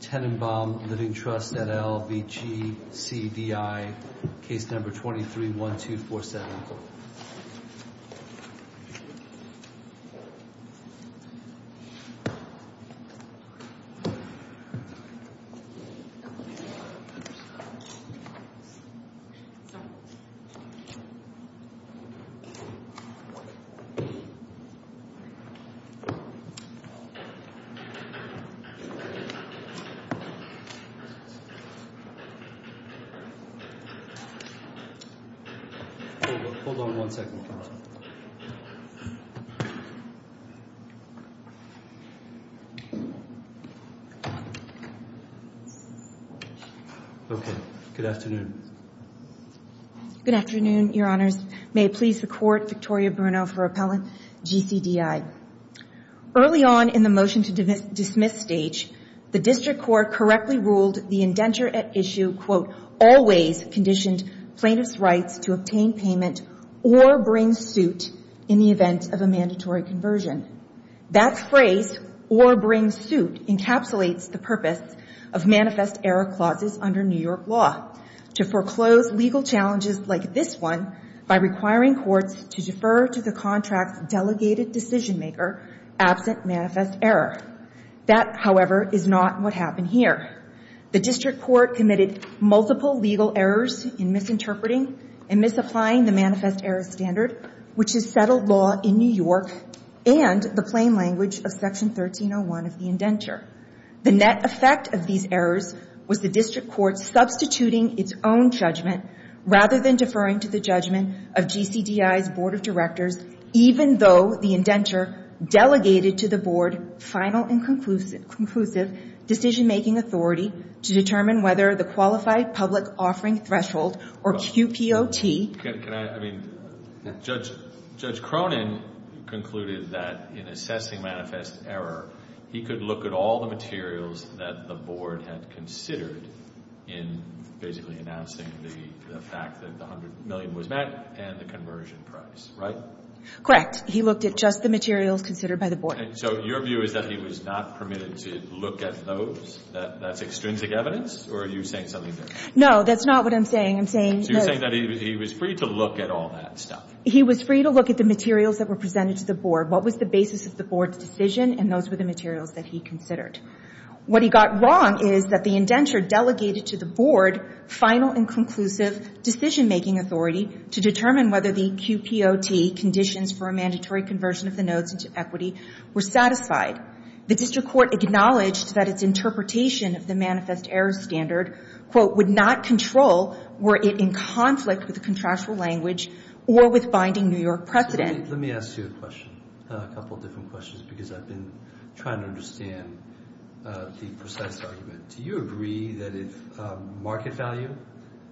Tennenbaum Living Trust, NL v. GCDI, case number 23-1247. Good afternoon, Your Honors. May it please the Court, Victoria Bruno for Appellant, GCDI. Early on in the motion to dismiss stage, the District Court correctly ruled the indenture at issue, quote, always conditioned plaintiff's rights to obtain payment or bring suit in the event of a mandatory conversion. That phrase, or bring suit, encapsulates the purpose of manifest error clauses under New York law to foreclose legal challenges like this one by requiring courts to defer to the contract's delegated decision maker absent manifest error. That, however, is not what happened here. The District Court committed multiple legal errors in misinterpreting and misapplying the manifest error standard, which is settled law in New York and the plain language of Section 1301 of the indenture. The net effect of these errors was the District Court substituting its own judgment rather than deferring to the judgment of GCDI's Board of Directors, even though the indenture delegated to the Board final and conclusive decision-making authority to determine whether the Qualified Public Offering Threshold, or QPOT... Well, can I... I mean, Judge Cronin concluded that in assessing manifest error, he could look at all the materials that the Board had considered in basically announcing the fact that the $100 million was met and the conversion price, right? Correct. He looked at just the materials considered by the Board. So your view is that he was not permitted to look at those? That's extrinsic evidence? Or are you saying something different? No. That's not what I'm saying. I'm saying... So you're saying that he was free to look at all that stuff? He was free to look at the materials that were presented to the Board. What was the basis of the Board's decision, and those were the materials that he considered. What he got wrong is that the indenture delegated to the Board final and conclusive decision-making authority to determine whether the QPOT, conditions for a mandatory conversion of the notes into equity, were satisfied. The district court acknowledged that its interpretation of the manifest error standard, quote, would not control were it in conflict with the contractual language or with binding New York precedent. Let me ask you a question, a couple of different questions, because I've been trying to understand the precise argument. Do you agree that if market value,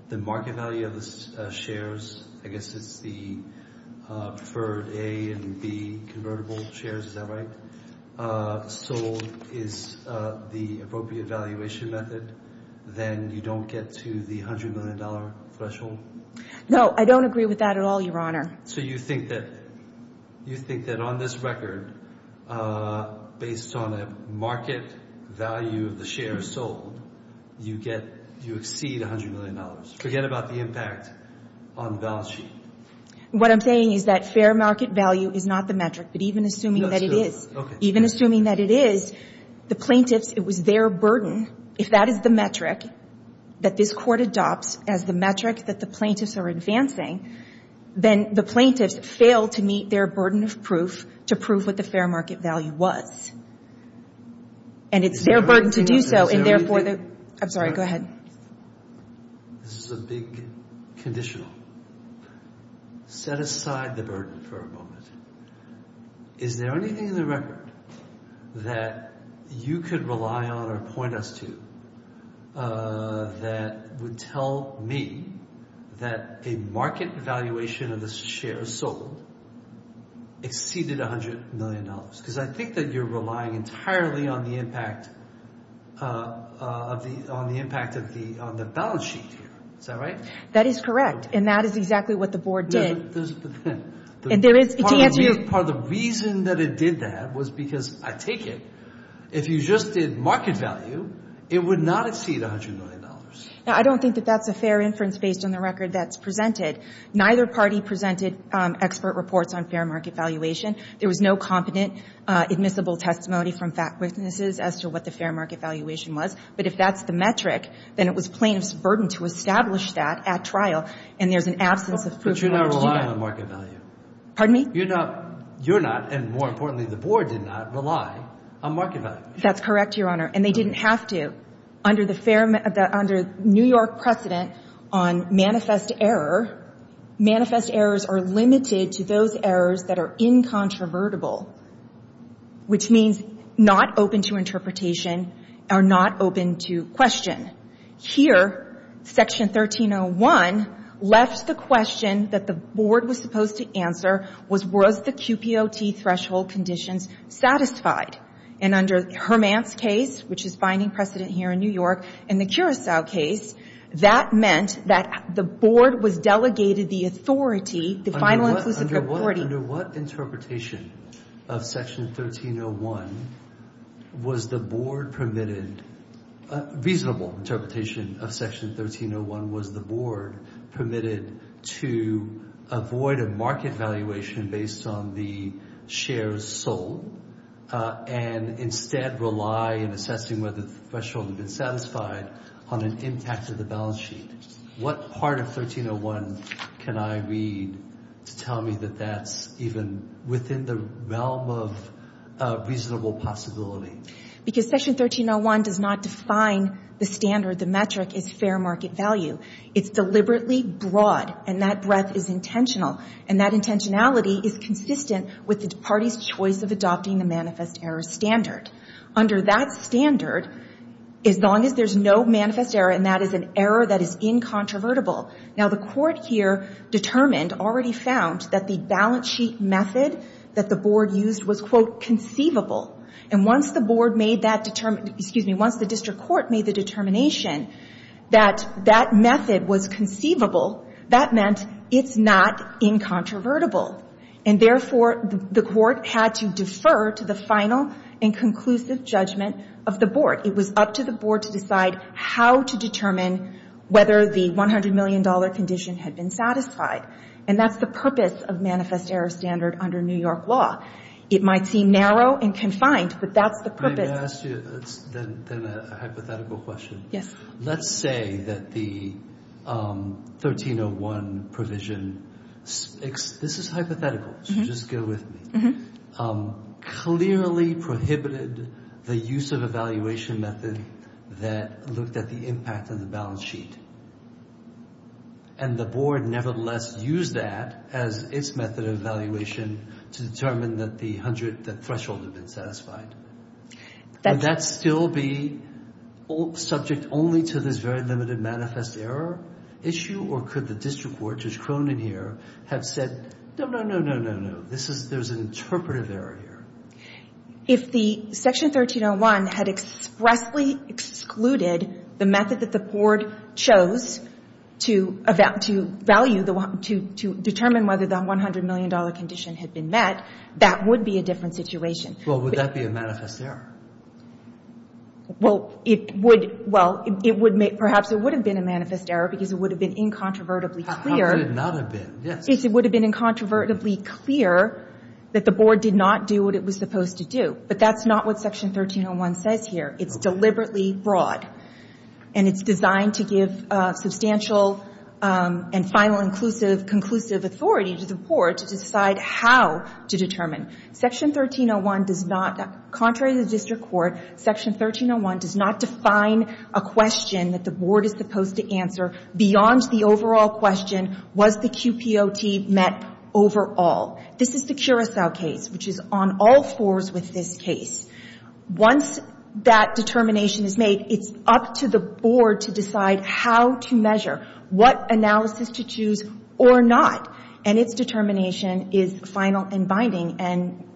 the market value of the shares, I guess it's the preferred A and B convertible shares, is that right, sold is the appropriate valuation method, then you don't get to the $100 million threshold? No, I don't agree with that at all, Your Honor. So you think that, you think that on this record, based on a market value of the shares sold, you get, you exceed $100 million. Forget about the impact on the balance sheet. What I'm saying is that fair market value is not the metric, but even assuming that it is, even assuming that it is, the plaintiffs, it was their burden. If that is the metric that this Court adopts as the metric that the plaintiffs are advancing, then the plaintiffs fail to meet their burden of proof to prove what the fair market value was. And it's their burden to do so, and therefore the... I'm sorry, go ahead. This is a big conditional. Set aside the burden for a moment. Is there anything in the record that you could rely on or point us to that would tell me that a market valuation of the shares sold exceeded $100 million? Because I think that you're relying entirely on the impact of the, on the impact of the, on the balance sheet here. Is that right? That is correct, and that is exactly what the Board did. And there is... Part of the reason that it did that was because, I take it, if you just did market value, it would not exceed $100 million. Now, I don't think that that's a fair inference based on the record that's presented. Neither party presented expert reports on fair market valuation. There was no competent admissible testimony from fact witnesses as to what the fair market valuation was. But if that's the metric, then it was plaintiffs' burden to establish that at trial, and there's an absence of proof... But you're not relying on market value. Pardon me? You're not, and more importantly, the Board did not rely on market value. That's correct, Your Honor, and they didn't have to. Under the New York precedent on manifest error, manifest errors are limited to those errors that are incontrovertible, which means not open to interpretation or not open to question. Here, Section 1301 left the question that the Board was supposed to answer was, was the QPOT threshold conditions satisfied? And under Hermant's case, which is finding precedent here in New York, and the Curacao case, that meant that the Board was delegated the authority, the final inclusive authority... Under what interpretation of Section 1301 was the Board permitted... Reasonable interpretation of Section 1301 was the Board permitted to avoid a market valuation based on the shares sold and instead rely in assessing whether the threshold had been satisfied on an impact of the balance sheet. What part of 1301 can I read to tell me that that's even within the realm of reasonable possibility? Because Section 1301 does not define the standard, the metric, as fair market value. It's deliberately broad, and that breadth is intentional, and that intentionality is consistent with the party's choice of adopting the manifest error standard. Under that standard, as long as there's no manifest error, and that is an error that is incontrovertible... Now, the Court here determined, already found, that the balance sheet method that the Board used was, quote, conceivable. And once the Board made that... Excuse me, once the District Court made the determination that that method was conceivable, that meant it's not incontrovertible. And therefore, the Court had to defer to the final and conclusive judgment of the Board. It was up to the Board to decide how to determine whether the $100 million condition had been satisfied. And that's the purpose of manifest error standard under New York law. It might seem narrow and confined, but that's the purpose. Let me ask you then a hypothetical question. Yes. Let's say that the 1301 provision... This is hypothetical, so just go with me. Clearly prohibited the use of evaluation method that looked at the impact of the balance sheet. And the Board, nevertheless, used that as its method of evaluation to determine that the threshold had been satisfied. Would that still be subject only to this very limited manifest error issue, or could the District Court, Judge Cronin here, have said, no, no, no, no, no, no, there's an interpretive error here? If the Section 1301 had expressly excluded the method that the Board chose to value, to determine whether the $100 million condition had been met, that would be a different situation. Well, would that be a manifest error? Well, it would. Well, perhaps it would have been a manifest error because it would have been incontrovertibly clear. How could it not have been? Yes. It would have been incontrovertibly clear that the Board did not do what it was supposed to do. But that's not what Section 1301 says here. It's deliberately broad. And it's designed to give substantial and final inclusive, conclusive authority to the Board to decide how to determine. Section 1301 does not, contrary to the District Court, Section 1301 does not define a question that the Board is supposed to answer beyond the overall question, was the QPOT met overall? This is the Curacao case, which is on all fours with this case. Once that determination is made, it's up to the Board to decide how to measure, what analysis to choose or not. And its determination is final and binding and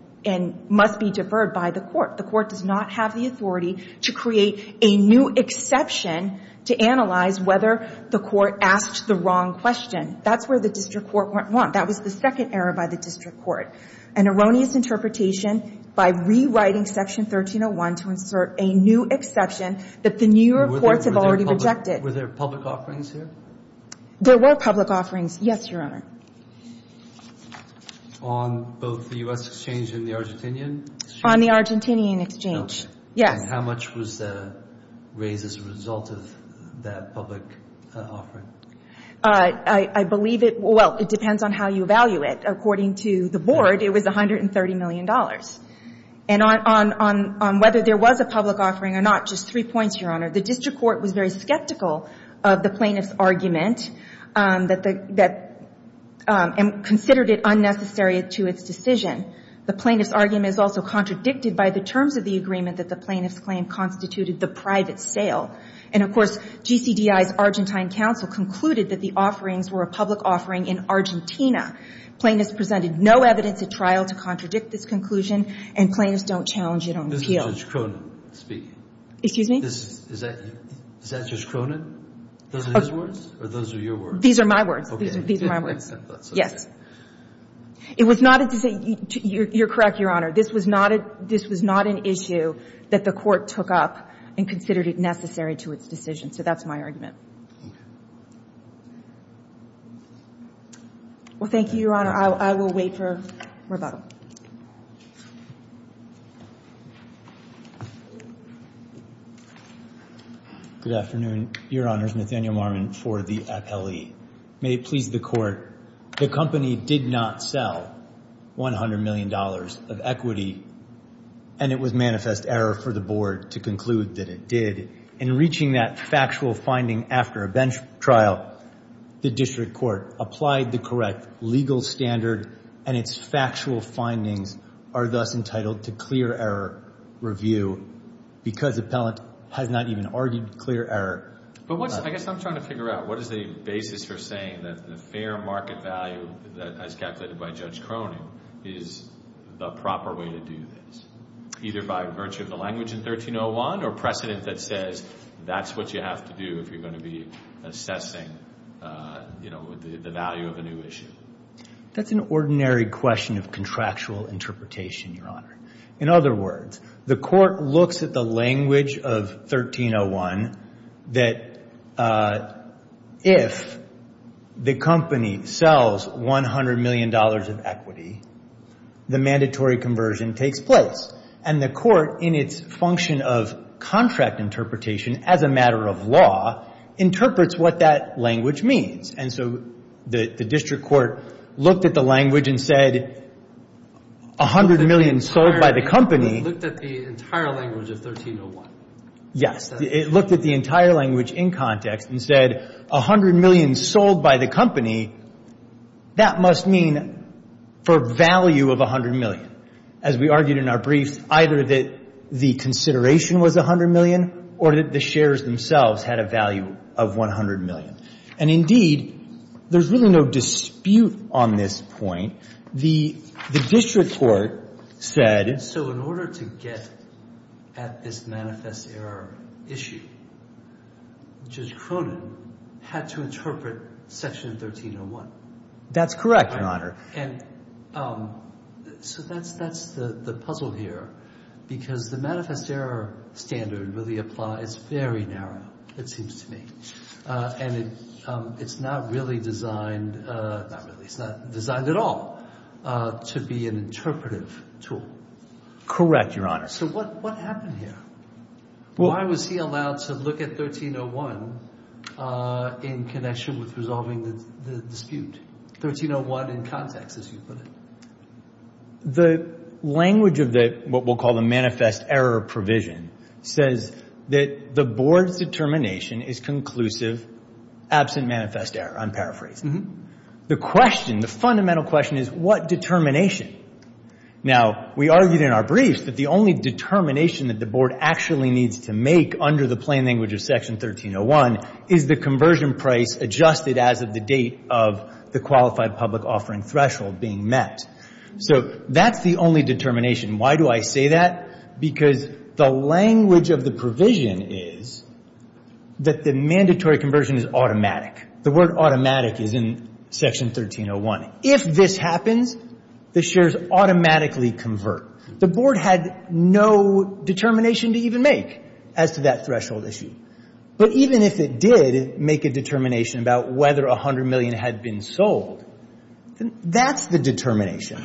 must be deferred by the Court. The Court does not have the authority to create a new exception to analyze whether the Court asked the wrong question. That's where the District Court went wrong. That was the second error by the District Court. An erroneous interpretation by rewriting Section 1301 to insert a new exception that the new reports have already rejected. Were there public offerings here? There were public offerings, yes, Your Honor. On both the U.S. exchange and the Argentinian exchange? On the Argentinian exchange, yes. And how much was raised as a result of that public offering? I believe it, well, it depends on how you value it. According to the Board, it was $130 million. And on whether there was a public offering or not, just three points, Your Honor. The District Court was very skeptical of the plaintiff's argument that the — and considered it unnecessary to its decision. The plaintiff's argument is also contradicted by the terms of the agreement that the plaintiff's claim constituted the private sale. And, of course, GCDI's Argentine counsel concluded that the offerings were a public offering in Argentina. Plaintiffs presented no evidence at trial to contradict this conclusion, and plaintiffs don't challenge it on appeal. This is Judge Cronin speaking. Excuse me? Is that Judge Cronin? Those are his words? Or those are your words? These are my words. These are my words. Yes. It was not a — you're correct, Your Honor. This was not an issue that the Court took up and considered it necessary to its decision. So that's my argument. Well, thank you, Your Honor. I will wait for rebuttal. Good afternoon. Your Honor, it's Nathaniel Marmon for the appellee. May it please the Court, the company did not sell $100 million of equity, and it was manifest error for the Board to conclude that it did. In reaching that factual finding after a bench trial, the District Court applied the correct legal standard and its factual finding to the court. These findings are thus entitled to clear error review because the appellant has not even argued clear error. But what's — I guess I'm trying to figure out, what is the basis for saying that the fair market value as calculated by Judge Cronin is the proper way to do this, either by virtue of the language in 1301 or precedent that says that's what you have to do if you're going to be assessing, you know, the value of a new issue? That's an ordinary question of contractual interpretation, Your Honor. In other words, the Court looks at the language of 1301 that if the company sells $100 million of equity, the mandatory conversion takes place. And the Court, in its function of contract interpretation as a matter of law, interprets what that language means. And so the District Court looked at the language and said, $100 million sold by the company — It looked at the entire language of 1301. Yes. It looked at the entire language in context and said, $100 million sold by the company, that must mean for value of $100 million. As we argued in our brief, either that the consideration was $100 million or that the shares themselves had a value of $100 million. And indeed, there's really no dispute on this point. The District Court said — So in order to get at this manifest error issue, Judge Cronin had to interpret Section 1301. That's correct, Your Honor. And so that's the puzzle here, because the manifest error standard really applies very narrow, it seems to me. And it's not really designed — not really. It's not designed at all to be an interpretive tool. Correct, Your Honor. So what happened here? Why was he allowed to look at 1301 in connection with resolving the dispute? 1301 in context, as you put it. The language of what we'll call the manifest error provision says that the Board's determination is conclusive, absent manifest error, I'm paraphrasing. The question, the fundamental question is, what determination? Now, we argued in our brief that the only determination that the Board actually needs to make under the plain language of Section 1301 is the conversion price adjusted as of the date of the qualified public offering threshold being met. So that's the only determination. Why do I say that? Because the language of the provision is that the mandatory conversion is automatic. The word automatic is in Section 1301. If this happens, the shares automatically convert. The Board had no determination to even make as to that threshold issue. But even if it did make a determination about whether $100 million had been sold, that's the determination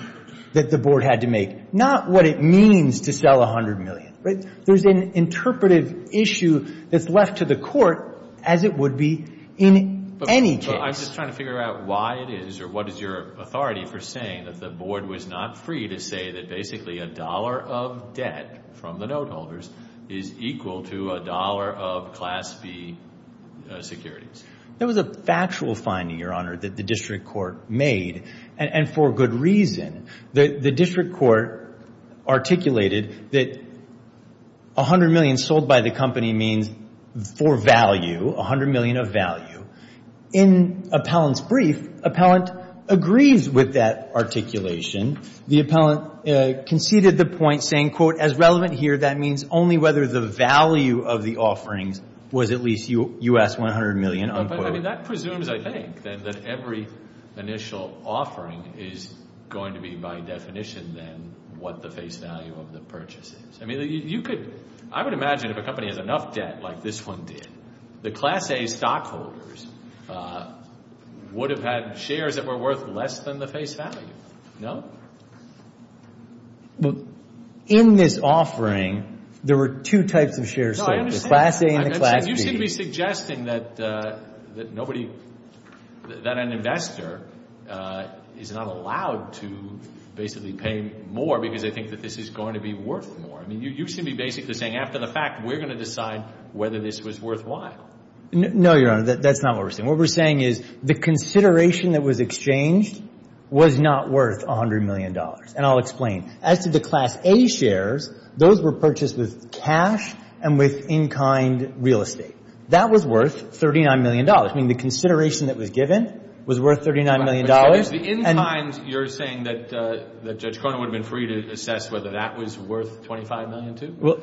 that the Board had to make. Not what it means to sell $100 million, right? There's an interpretive issue that's left to the Court as it would be in any case. But I'm just trying to figure out why it is or what is your authority for saying that the Board was not free to say that basically a dollar of debt from the note holders is equal to a dollar of Class B securities? That was a factual finding, Your Honor, that the District Court made, and for good reason. The District Court articulated that $100 million sold by the company means for value, $100 million of value. In Appellant's brief, Appellant agrees with that articulation. The Appellant conceded the point saying, quote, as relevant here, that means only whether the value of the offerings was at least U.S. $100 million, unquote. That presumes, I think, then that every initial offering is going to be by definition then what the face value of the purchase is. I would imagine if a company has enough debt like this one did, the Class A stockholders would have had shares that were worth less than the face value, no? In this offering, there were two types of shares sold, the Class A and the Class B. You seem to be suggesting that an investor is not allowed to basically pay more because they think that this is going to be worth more. I mean, you seem to be basically saying after the fact, we're going to decide whether this was worthwhile. No, Your Honor, that's not what we're saying. What we're saying is the consideration that was exchanged was not worth $100 million, and I'll explain. As to the Class A shares, those were purchased with cash and with in-kind real estate. That was worth $39 million. I mean, the consideration that was given was worth $39 million. But the in-kind, you're saying that Judge Cronin would have been free to assess whether that was worth $25 million, too? Well,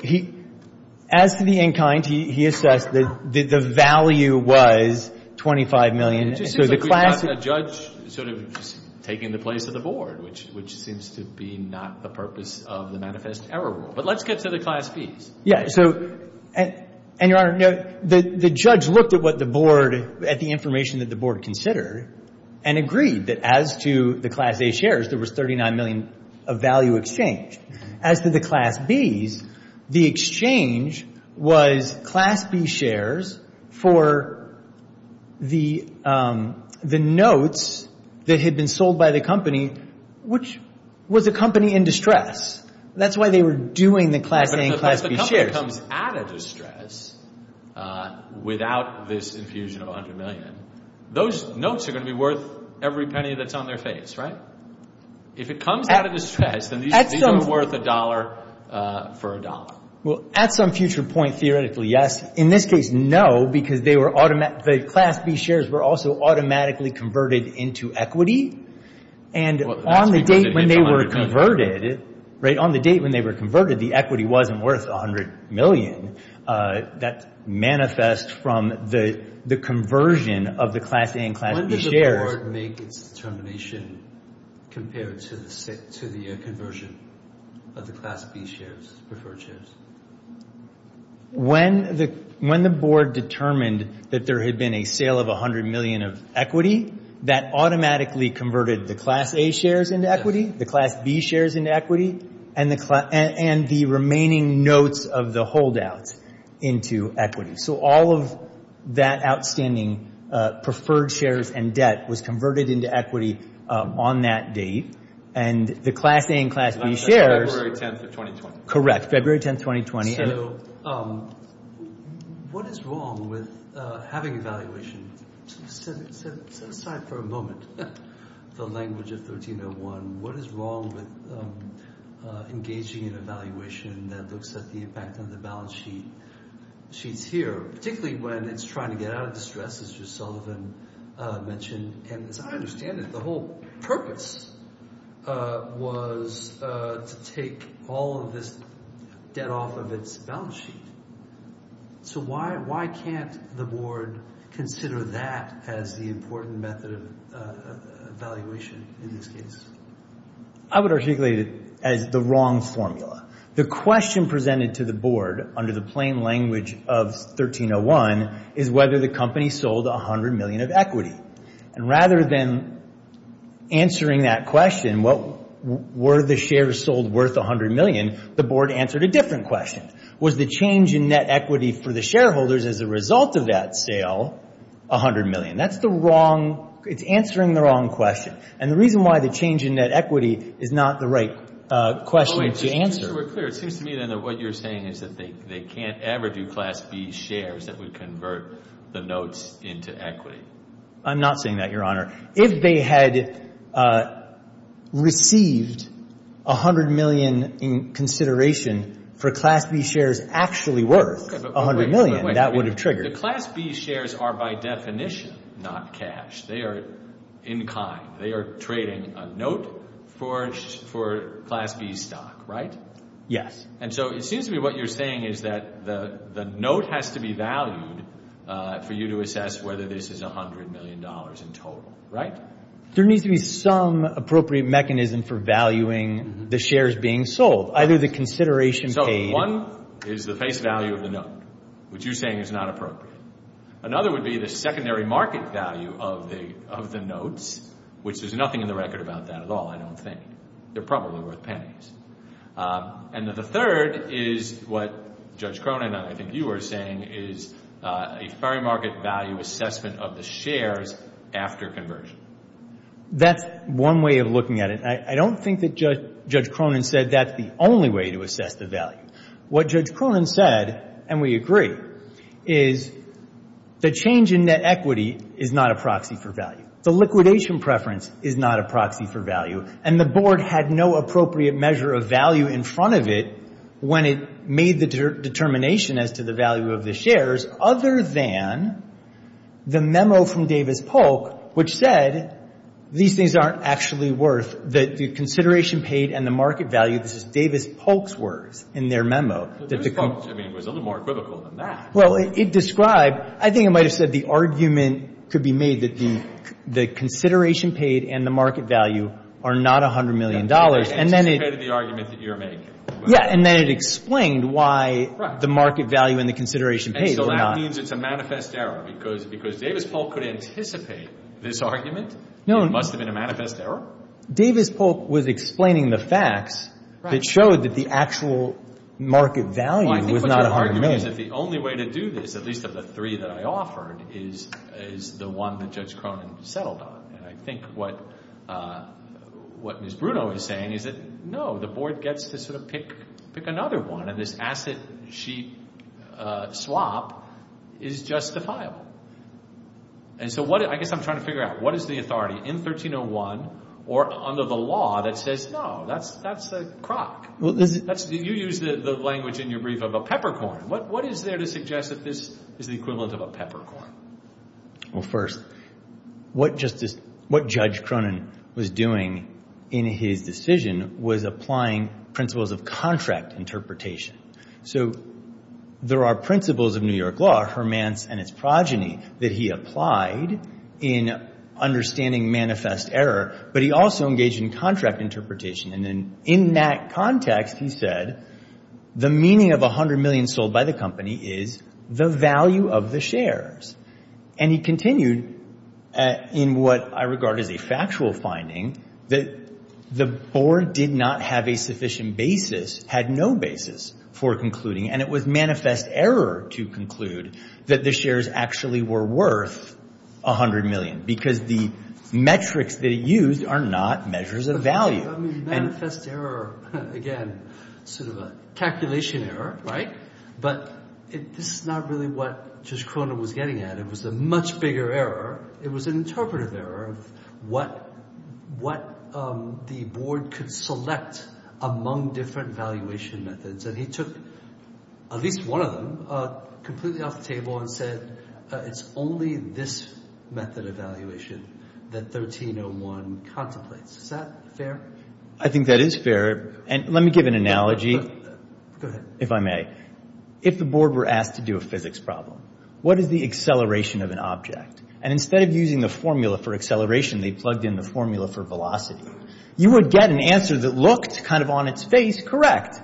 as to the in-kind, he assessed that the value was $25 million. It just seems like we've got a judge sort of taking the place of the Board, which seems to be not the purpose of the Manifest Error Rule. But let's get to the Class Bs. Yeah. So, and Your Honor, the judge looked at what the Board, at the information that the Board considered and agreed that as to the Class A shares, there was $39 million of value exchanged. As to the Class Bs, the exchange was Class B shares for the notes that had been sold by the company, which was a company in distress. That's why they were doing the Class A and Class B shares. But if the company comes out of distress, without this infusion of $100 million, those notes are going to be worth every penny that's on their face, right? If it comes out of distress, then these things are worth a dollar for a dollar. Well, at some future point, theoretically, yes. In this case, no, because the Class B shares were also automatically converted into equity. And on the date when they were converted, right, on the date when they were converted, the equity wasn't worth $100 million. That manifests from the conversion of the Class A and Class B shares. When does the Board make its determination compared to the conversion of the Class B shares, preferred shares? When the Board determined that there had been a sale of $100 million of equity, that automatically converted the Class A shares into equity, the Class B shares into equity, and the remaining notes of the holdouts into equity. So all of that outstanding preferred shares and debt was converted into equity on that date. And the Class A and Class B shares... February 10th of 2020. Correct. February 10th, 2020. So what is wrong with having evaluation? Set aside for a moment the language of 1301. What is wrong with engaging in evaluation that looks at the impact on the balance sheets here, particularly when it's trying to get out of distress, as you, Sullivan, mentioned? And as I understand it, the whole purpose was to take all of this debt off of its balance sheet. So why can't the Board consider that as the important method of evaluation in this case? I would articulate it as the wrong formula. The question presented to the Board under the plain language of 1301 is whether the company sold $100 million of equity. And rather than answering that question, were the shares sold worth $100 million, the Board answered a different question. Was the change in net equity for the shareholders as a result of that sale $100 million? That's the wrong... It's answering the wrong question. And the reason why the change in net equity is not the right question to answer... To be clear, it seems to me that what you're saying is that they can't ever do Class B shares that would convert the notes into equity. I'm not saying that, Your Honor. If they had received $100 million in consideration for Class B shares actually worth $100 million, that would have triggered. The Class B shares are by definition not cash. They are in kind. They are trading a note for Class B stock, right? Yes. And so it seems to me what you're saying is that the note has to be valued for you to assess whether this is $100 million in total. There needs to be some appropriate mechanism for valuing the shares being sold, either the consideration paid... So one is the face value of the note, which you're saying is not appropriate. Another would be the secondary market value of the notes, which there's nothing in the record about that at all, I don't think. They're probably worth pennies. And the third is what Judge Cronin and I think you were saying is a fair market value assessment of the shares after conversion. That's one way of looking at it. I don't think that Judge Cronin said that's the only way to assess the value. What Judge Cronin said, and we agree, is the change in net equity is not a proxy for value. The liquidation preference is not a proxy for value. And the Board had no appropriate measure of value in front of it when it made the determination as to the value of the shares, other than the memo from Davis-Polk, which said these things aren't actually worth the consideration paid and the market value. This is Davis-Polk's words in their memo. So Davis-Polk, I mean, was a little more equivocal than that. Well, it described... I think it might have said the argument could be made that the consideration paid and the market value are not $100 million, and then it... It anticipated the argument that you're making. Yeah, and then it explained why the market value and the consideration paid were not... So that means it's a manifest error, because Davis-Polk could anticipate this argument. It must have been a manifest error. Davis-Polk was explaining the facts that showed that the actual market value was not $100 million. I think what's hard to do is that the only way to do this, at least of the three that I offered, is the one that Judge Cronin settled on. And I think what Ms. Bruno is saying is that, no, the board gets to sort of pick another one, and this asset-sheet swap is justifiable. And so what... I guess I'm trying to figure out, what is the authority in 1301 or under the law that says, no, that's a crock? You used the language in your brief of a peppercorn. What is there to suggest that this is the equivalent of a peppercorn? Well, first, what Judge Cronin was doing in his decision was applying principles of contract interpretation. So there are principles of New York law, Hermann's and its progeny, that he applied in understanding manifest error, but he also engaged in contract interpretation. And then in that context, he said, the meaning of $100 million sold by the company is the value of the shares. And he continued, in what I regard as a factual finding, that the board did not have a sufficient basis, had no basis for concluding, and it was manifest error to conclude that the shares actually were worth $100 million, because the metrics that it used are not measures of value. I mean, manifest error, again, sort of a calculation error, right? But this is not really what Judge Cronin was getting at. It was a much bigger error. It was an interpretive error of what the board could select among different valuation methods. And he took at least one of them completely off the table and said, it's only this method of valuation that 1301 contemplates. Is that fair? I think that is fair. And let me give an analogy, if I may. If the board were asked to do a physics problem, what is the acceleration of an object? And instead of using the formula for acceleration, they plugged in the formula for velocity. You would get an answer that looked kind of on its face, correct.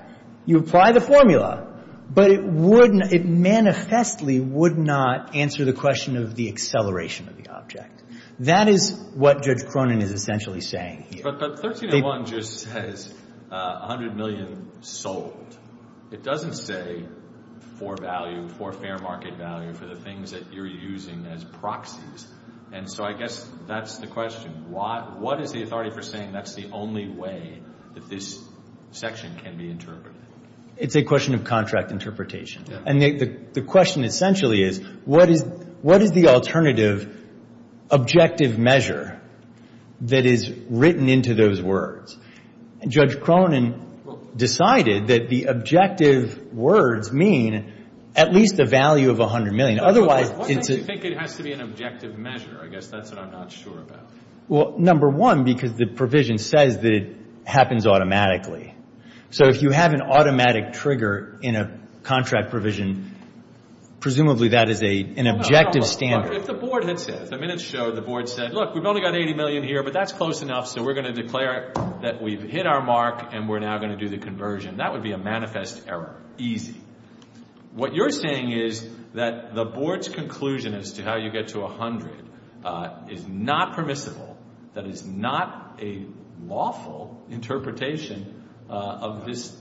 You apply the formula. But it manifestly would not answer the question of the acceleration of the object. That is what Judge Cronin is essentially saying here. But 1301 just says 100 million sold. It doesn't say for value, for fair market value, for the things that you're using as proxies. And so I guess that's the question. What is the authority for saying that's the only way that this section can be interpreted? It's a question of contract interpretation. And the question essentially is, what is the alternative objective measure that is written into those words? Judge Cronin decided that the objective words mean at least the value of 100 million. Otherwise, it's a... Why do you think it has to be an objective measure? I guess that's what I'm not sure about. Well, number one, because the provision says that it happens automatically. So if you have an automatic trigger in a contract provision, presumably that is an objective standard. If the board had said, the minutes show the board said, look, we've only got 80 million here, but that's close enough. So we're going to declare that we've hit our mark and we're now going to do the conversion. That would be a manifest error. Easy. What you're saying is that the board's conclusion as to how you get to 100 is not permissible. That is not a lawful interpretation of this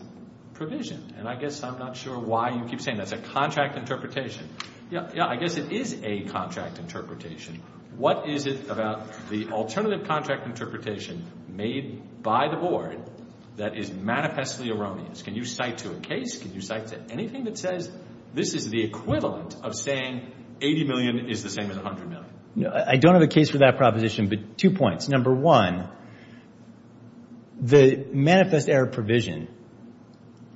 provision. And I guess I'm not sure why you keep saying that's a contract interpretation. Yeah, I guess it is a contract interpretation. What is it about the alternative contract interpretation made by the board that is manifestly erroneous? Can you cite to a case? Can you cite to anything that says this is the equivalent of saying 80 million is the same as 100 million? I don't have a case for that proposition, but two points. Number one, the manifest error provision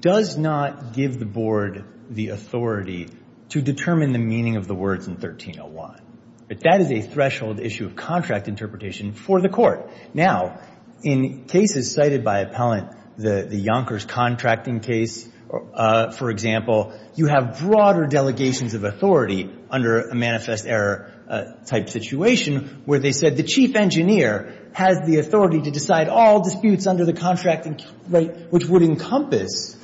does not give the board the authority to determine the meaning of the words in 1301. But that is a threshold issue of contract interpretation for the court. Now, in cases cited by appellant, the Yonkers contracting case, for example, you have broader delegations of authority under a manifest error type situation where they said the chief engineer has the authority to decide all disputes under the contract, which would encompass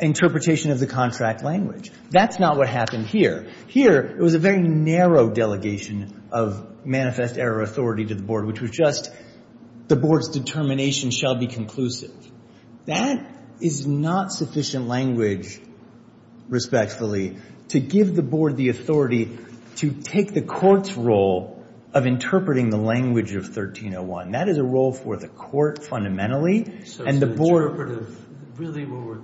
interpretation of the contract language. That's not what happened here. Here, it was a very narrow delegation of manifest error authority to the board, which was just the board's determination shall be conclusive. That is not sufficient language, respectfully, to give the board the authority to take the court's role of interpreting the language of 1301. That is a role for the court, fundamentally. So it's an interpretive, really, where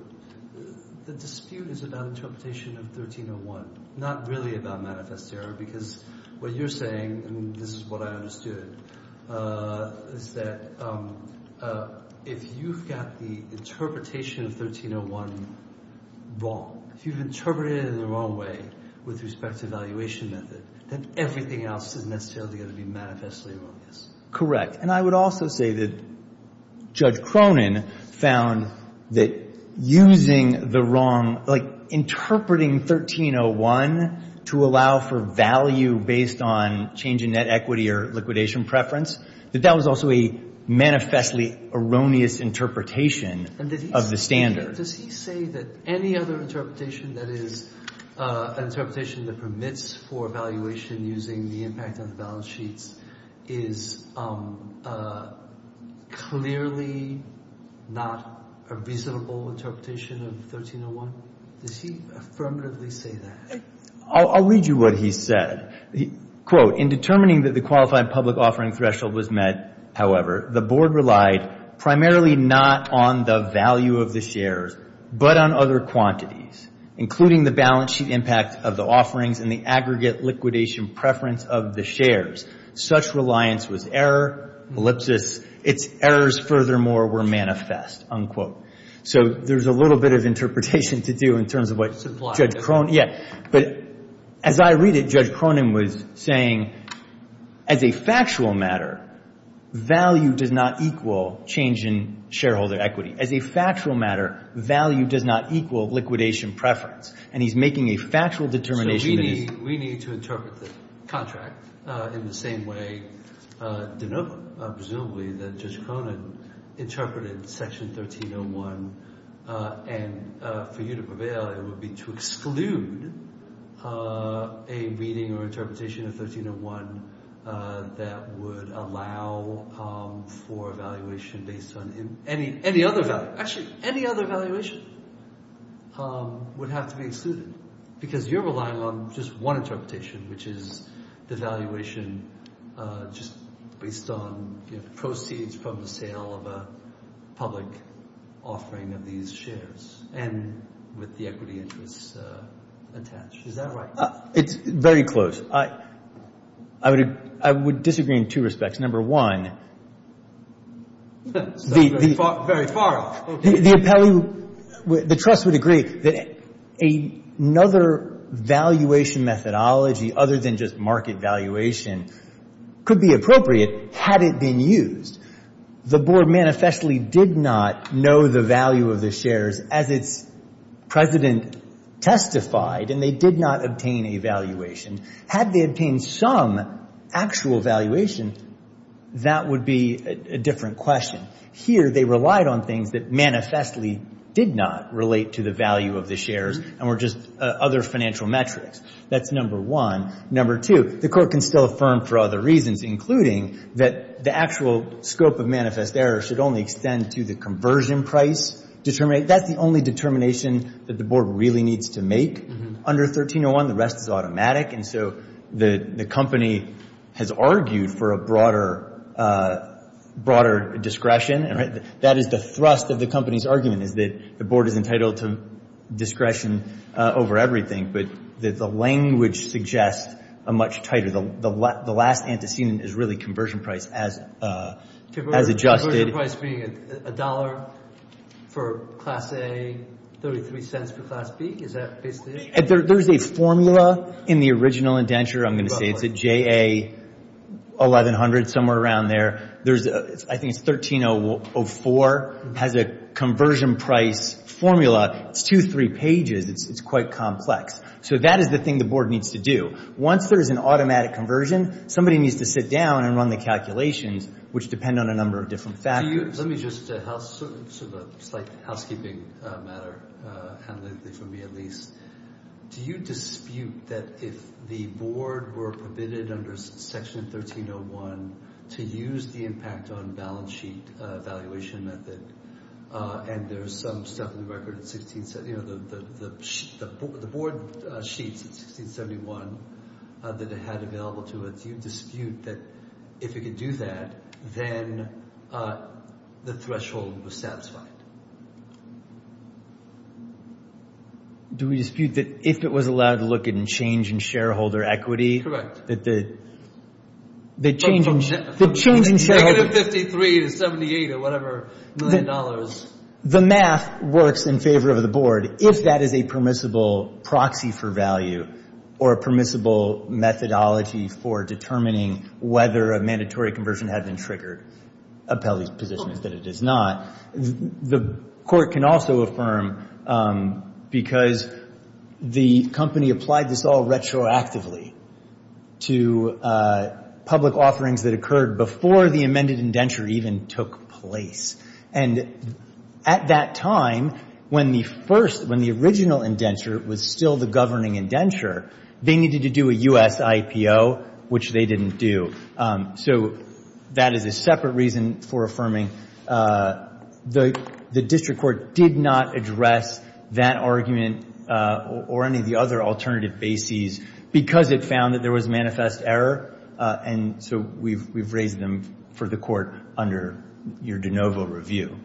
the dispute is about interpretation of 1301, not really about manifest error. Because what you're saying, and this is what I understood, is that if you've got the interpretation of 1301 wrong, if you've interpreted it in the wrong way with respect to evaluation method, then everything else is necessarily going to be manifestly wrong. Correct. And I would also say that Judge Cronin found that using the wrong, like interpreting 1301 to allow for value based on change in net equity or liquidation preference, that that was also a manifestly erroneous interpretation of the standard. And does he say that any other interpretation that is an interpretation that permits for evaluation using the impact of the balance sheets is clearly not a reasonable interpretation of 1301? Does he affirmatively say that? I'll read you what he said. Quote, in determining that the qualified public offering threshold was met, however, the board relied primarily not on the value of the shares, but on other quantities, including the balance sheet impact of the offerings and the aggregate liquidation preference of the shares. Such reliance was error, ellipsis, its errors furthermore were manifest, unquote. So there's a little bit of interpretation to do in terms of what Judge Cronin, yeah. But as I read it, Judge Cronin was saying, as a factual matter, value does not equal change in shareholder equity. As a factual matter, value does not equal liquidation preference. And he's making a factual determination. So we need to interpret the contract in the same way, presumably, that Judge Cronin interpreted section 1301. And for you to prevail, it would be to exclude a reading or interpretation of 1301 that would allow for a valuation based on any other value. Actually, any other valuation would have to be excluded. Because you're relying on just one interpretation, which is the valuation just based on proceeds from the sale of a public offering of these shares and with the equity interest attached. Is that right? It's very close. I would disagree in two respects. Number one, the trust would agree that another valuation methodology other than just market valuation could be appropriate had it been used. The board manifestly did not know the value of the shares as its president testified. And they did not obtain a valuation. Had they obtained some actual valuation, that would be a different question. Here, they relied on things that manifestly did not relate to the value of the shares and were just other financial metrics. That's number one. Number two, the court can still affirm for other reasons, including that the actual scope of manifest error should only extend to the conversion price. That's the only determination that the board really needs to make under 1301. The rest is automatic. And so the company has argued for a broader discretion. That is the thrust of the company's argument, is that the board is entitled to discretion over everything. But the language suggests a much tighter. The last antecedent is really conversion price as adjusted. Conversion price being $1 for class A, $0.33 for class B. Is that basically it? There's a formula in the original indenture, I'm going to say. It's a JA 1100, somewhere around there. There's, I think it's 1304, has a conversion price formula. It's two, three pages. It's quite complex. So that is the thing the board needs to do. Once there's an automatic conversion, somebody needs to sit down and run the calculations, which depend on a number of different factors. Do you, let me just, sort of a slight housekeeping matter, analytically for me at least. Do you dispute that if the board were permitted under section 1301 to use the impact on balance sheet valuation method, and there's some stuff in the record at 16, you know, the board sheets in 1671 that it had available to it, do you dispute that if it could do that, then the threshold was satisfied? Do we dispute that if it was allowed to look at and change in shareholder equity? The change in shareholder equity. Negative 53 to 78 or whatever million dollars. The math works in favor of the board if that is a permissible proxy for value or a permissible methodology for determining whether a mandatory conversion had been triggered. Appellee's position is that it is not. The court can also affirm because the company applied this all retroactively to public offerings that occurred before the amended indenture even took place. And at that time, when the first, when the original indenture was still the governing indenture, they needed to do a U.S. IPO, which they didn't do. So that is a separate reason for affirming. The district court did not address that argument or any of the other alternative bases because it found that there was manifest error. And so we've raised them for the court under your de novo review.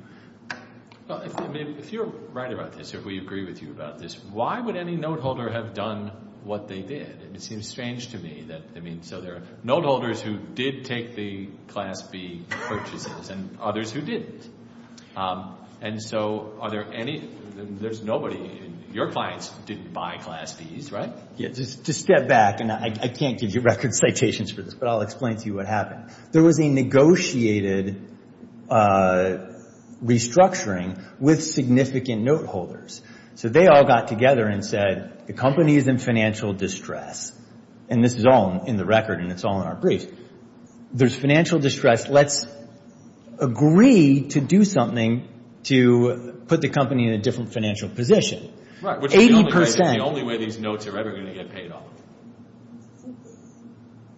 Well, I mean, if you're right about this, if we agree with you about this, why would any note holder have done what they did? And it seems strange to me that, I mean, so there are note holders who did take the class B purchases and others who didn't. And so are there any, there's nobody, your clients didn't buy class Bs, right? Yeah, just step back and I can't give you record citations for this, but I'll explain to you what happened. There was a negotiated restructuring with significant note holders. So they all got together and said, the company is in financial distress. And this is all in the record and it's all in our briefs. There's financial distress. Let's agree to do something to put the company in a different financial position. Which is the only way these notes are ever going to get paid off.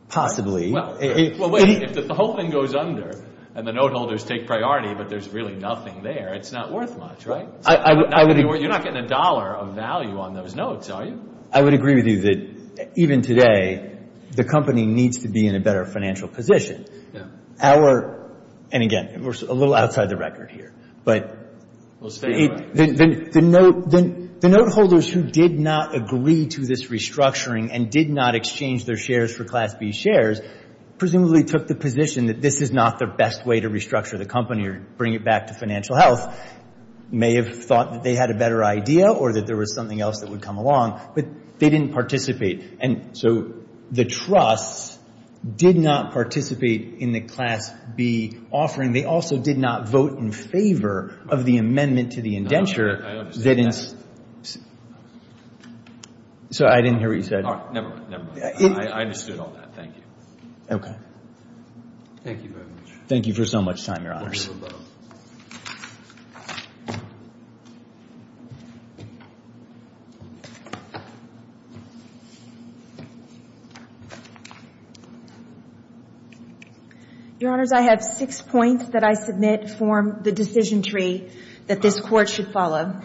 Possibly. Well, wait, if the whole thing goes under and the note holders take priority, but there's really nothing there, it's not worth much, right? You're not getting a dollar of value on those notes, are you? I would agree with you that even today, the company needs to be in a better financial position. And again, we're a little outside the record here. But the note holders who did not agree to this restructuring and did not exchange their shares for Class B shares, presumably took the position that this is not the best way to restructure the company or bring it back to financial health. They may have thought that they had a better idea or that there was something else that would come along, but they didn't participate. And so the trusts did not participate in the Class B offering. They also did not vote in favor of the amendment to the indenture. So I didn't hear what you said. Oh, never mind, never mind. I understood all that. Thank you. Okay. Thank you very much. Thank you for so much time, Your Honors. Your Honors, I have six points that I submit form the decision tree that this Court should follow.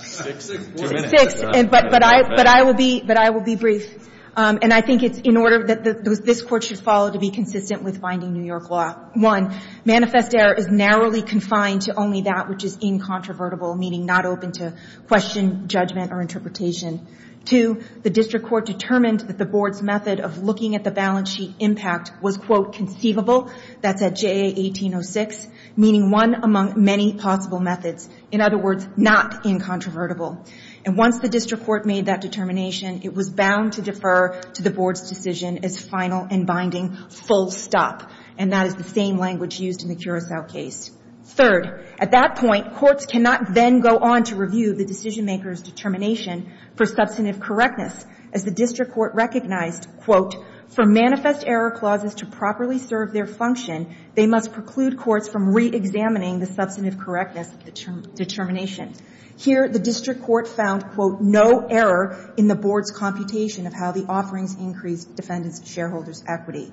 Six? Two minutes. But I will be brief. And I think it's in order that this Court should follow to be consistent with binding New York law. One, manifest error is narrowly confined to only that which is incontrovertible, meaning not open to question, judgment, or interpretation. Two, the District Court determined that the Board's method of looking at the balance sheet impact was, quote, conceivable. That's at JA 1806, meaning one among many possible methods. In other words, not incontrovertible. And once the District Court made that determination, it was bound to defer to the Board's decision as final and binding, full stop. And that is the same language used in the Curacao case. Third, at that point, courts cannot then go on to review the decision-maker's determination for substantive correctness. As the District Court recognized, quote, for manifest error clauses to properly serve their function, they must preclude courts from reexamining the substantive correctness determination. Here, the District Court found, quote, no error in the Board's computation of how the offerings increased defendants' and shareholders' equity.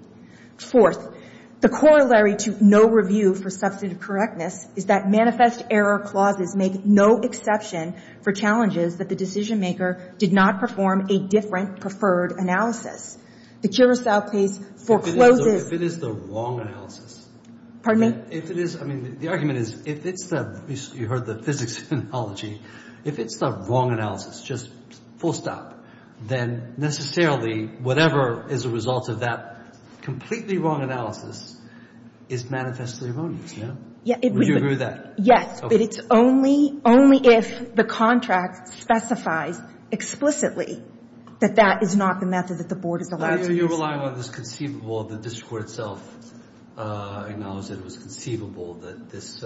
Fourth, the corollary to no review for substantive correctness is that manifest error clauses make no exception for challenges that the decision-maker did not perform a different preferred analysis. The Curacao case forecloses... If it is the wrong analysis... Pardon me? If it is, I mean, the argument is, if it's the, you heard the physics analogy, if it's the wrong analysis, just full stop, then necessarily whatever is a result of that completely wrong analysis is manifestly erroneous, no? Yeah, it was... Would you agree with that? Yes, but it's only, only if the contract specifies explicitly that that is not the method that the Board is allowed to use. You're relying on this conceivable, the District Court itself acknowledged that it was conceivable that this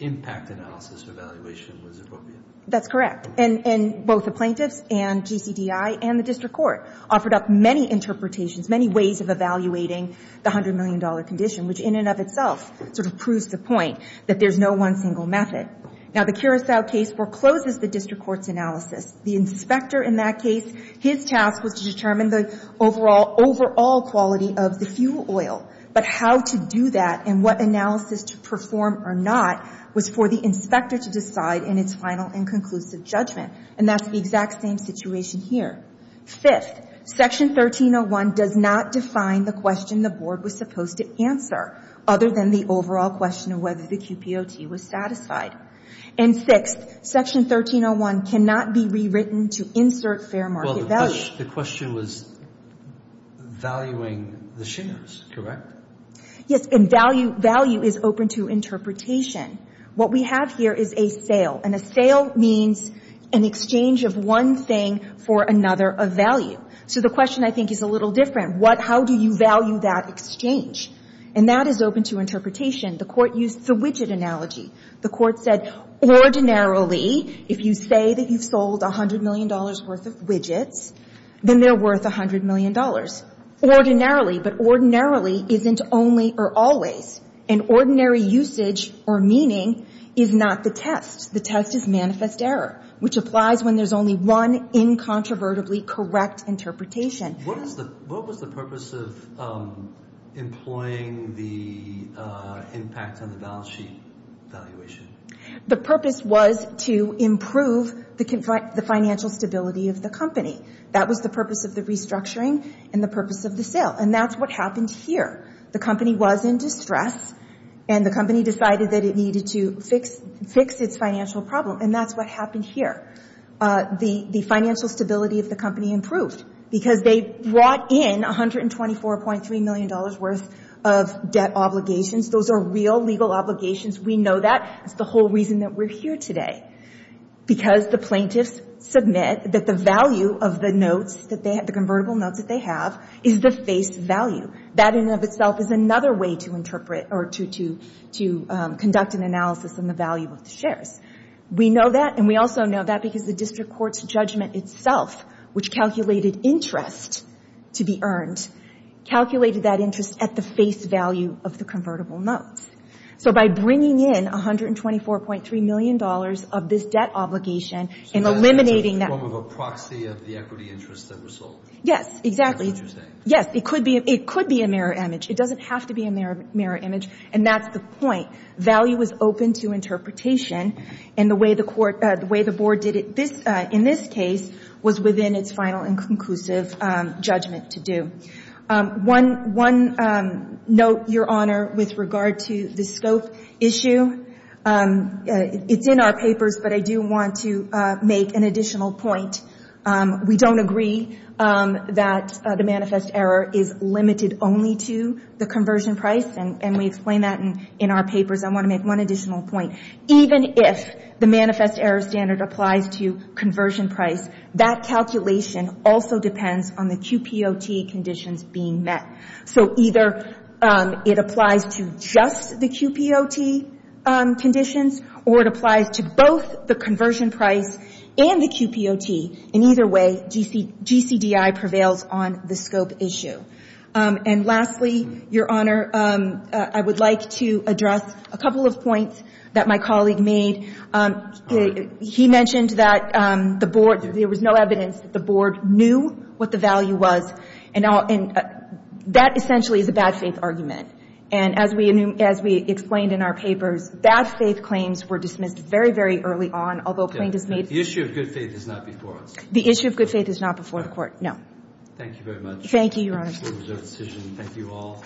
impact analysis evaluation was appropriate. That's correct, and both the plaintiffs and GCDI and the District Court offered up many interpretations, many ways of evaluating the $100 million condition, which in and of itself sort of proves the point that there's no one single method. Now, the Curacao case forecloses the District Court's analysis. The inspector in that case, his task was to determine the overall quality of the fuel oil, but how to do that and what analysis to perform or not was for the inspector to decide in its final and conclusive judgment, and that's the exact same situation here. Fifth, Section 1301 does not define the question the Board was supposed to answer, other than the overall question of whether the QPOT was satisfied. And sixth, Section 1301 cannot be rewritten to insert fair market value. The question was valuing the shares, correct? Yes, and value is open to interpretation. What we have here is a sale, and a sale means an exchange of one thing for another of value. So the question, I think, is a little different. What, how do you value that exchange? And that is open to interpretation. The Court used the widget analogy. The Court said, ordinarily, if you say that you've sold $100 million worth of widgets, then they're worth $100 million. Ordinarily, but ordinarily isn't only or always. An ordinary usage or meaning is not the test. The test is manifest error, which applies when there's only one incontrovertibly correct interpretation. What was the purpose of employing the impact on the balance sheet valuation? The purpose was to improve the financial stability of the company. That was the purpose of the restructuring and the purpose of the sale, and that's what happened here. The company was in distress, and the company decided that it needed to fix its financial problem, and that's what happened here. The financial stability of the company improved because they brought in $124.3 million worth of debt obligations. Those are real legal obligations. We know that. That's the whole reason that we're here today, because the plaintiffs submit that the value of the convertible notes that they have is the face value. That in and of itself is another way to conduct an analysis on the value of the shares. We know that, and we also know that because the district court's judgment itself, which calculated interest to be earned, calculated that interest at the face value of the convertible notes. So by bringing in $124.3 million of this debt obligation and eliminating that— So that's sort of a proxy of the equity interest that was sold. Yes, exactly. That's what you're saying. Yes, it could be a mirror image. It doesn't have to be a mirror image, and that's the point. Value is open to interpretation, and the way the board did it in this case was within its final and conclusive judgment to do. One note, Your Honor, with regard to the scope issue. It's in our papers, but I do want to make an additional point. We don't agree that the manifest error is limited only to the conversion price, and we explain that in our papers. I want to make one additional point. Even if the manifest error standard applies to conversion price, that calculation also depends on the QPOT conditions being met. So either it applies to just the QPOT conditions, or it applies to both the conversion price and the QPOT. In either way, GCDI prevails on the scope issue. And lastly, Your Honor, I would like to address a couple of points that my colleague made. He mentioned that the board, there was no evidence that the board knew what the value was. And that essentially is a bad faith argument. And as we explained in our papers, bad faith claims were dismissed very, very early on, although plaintiffs made... The issue of good faith is not before us. The issue of good faith is not before the Court. No. Thank you very much. Thank you, Your Honor. Thank you all.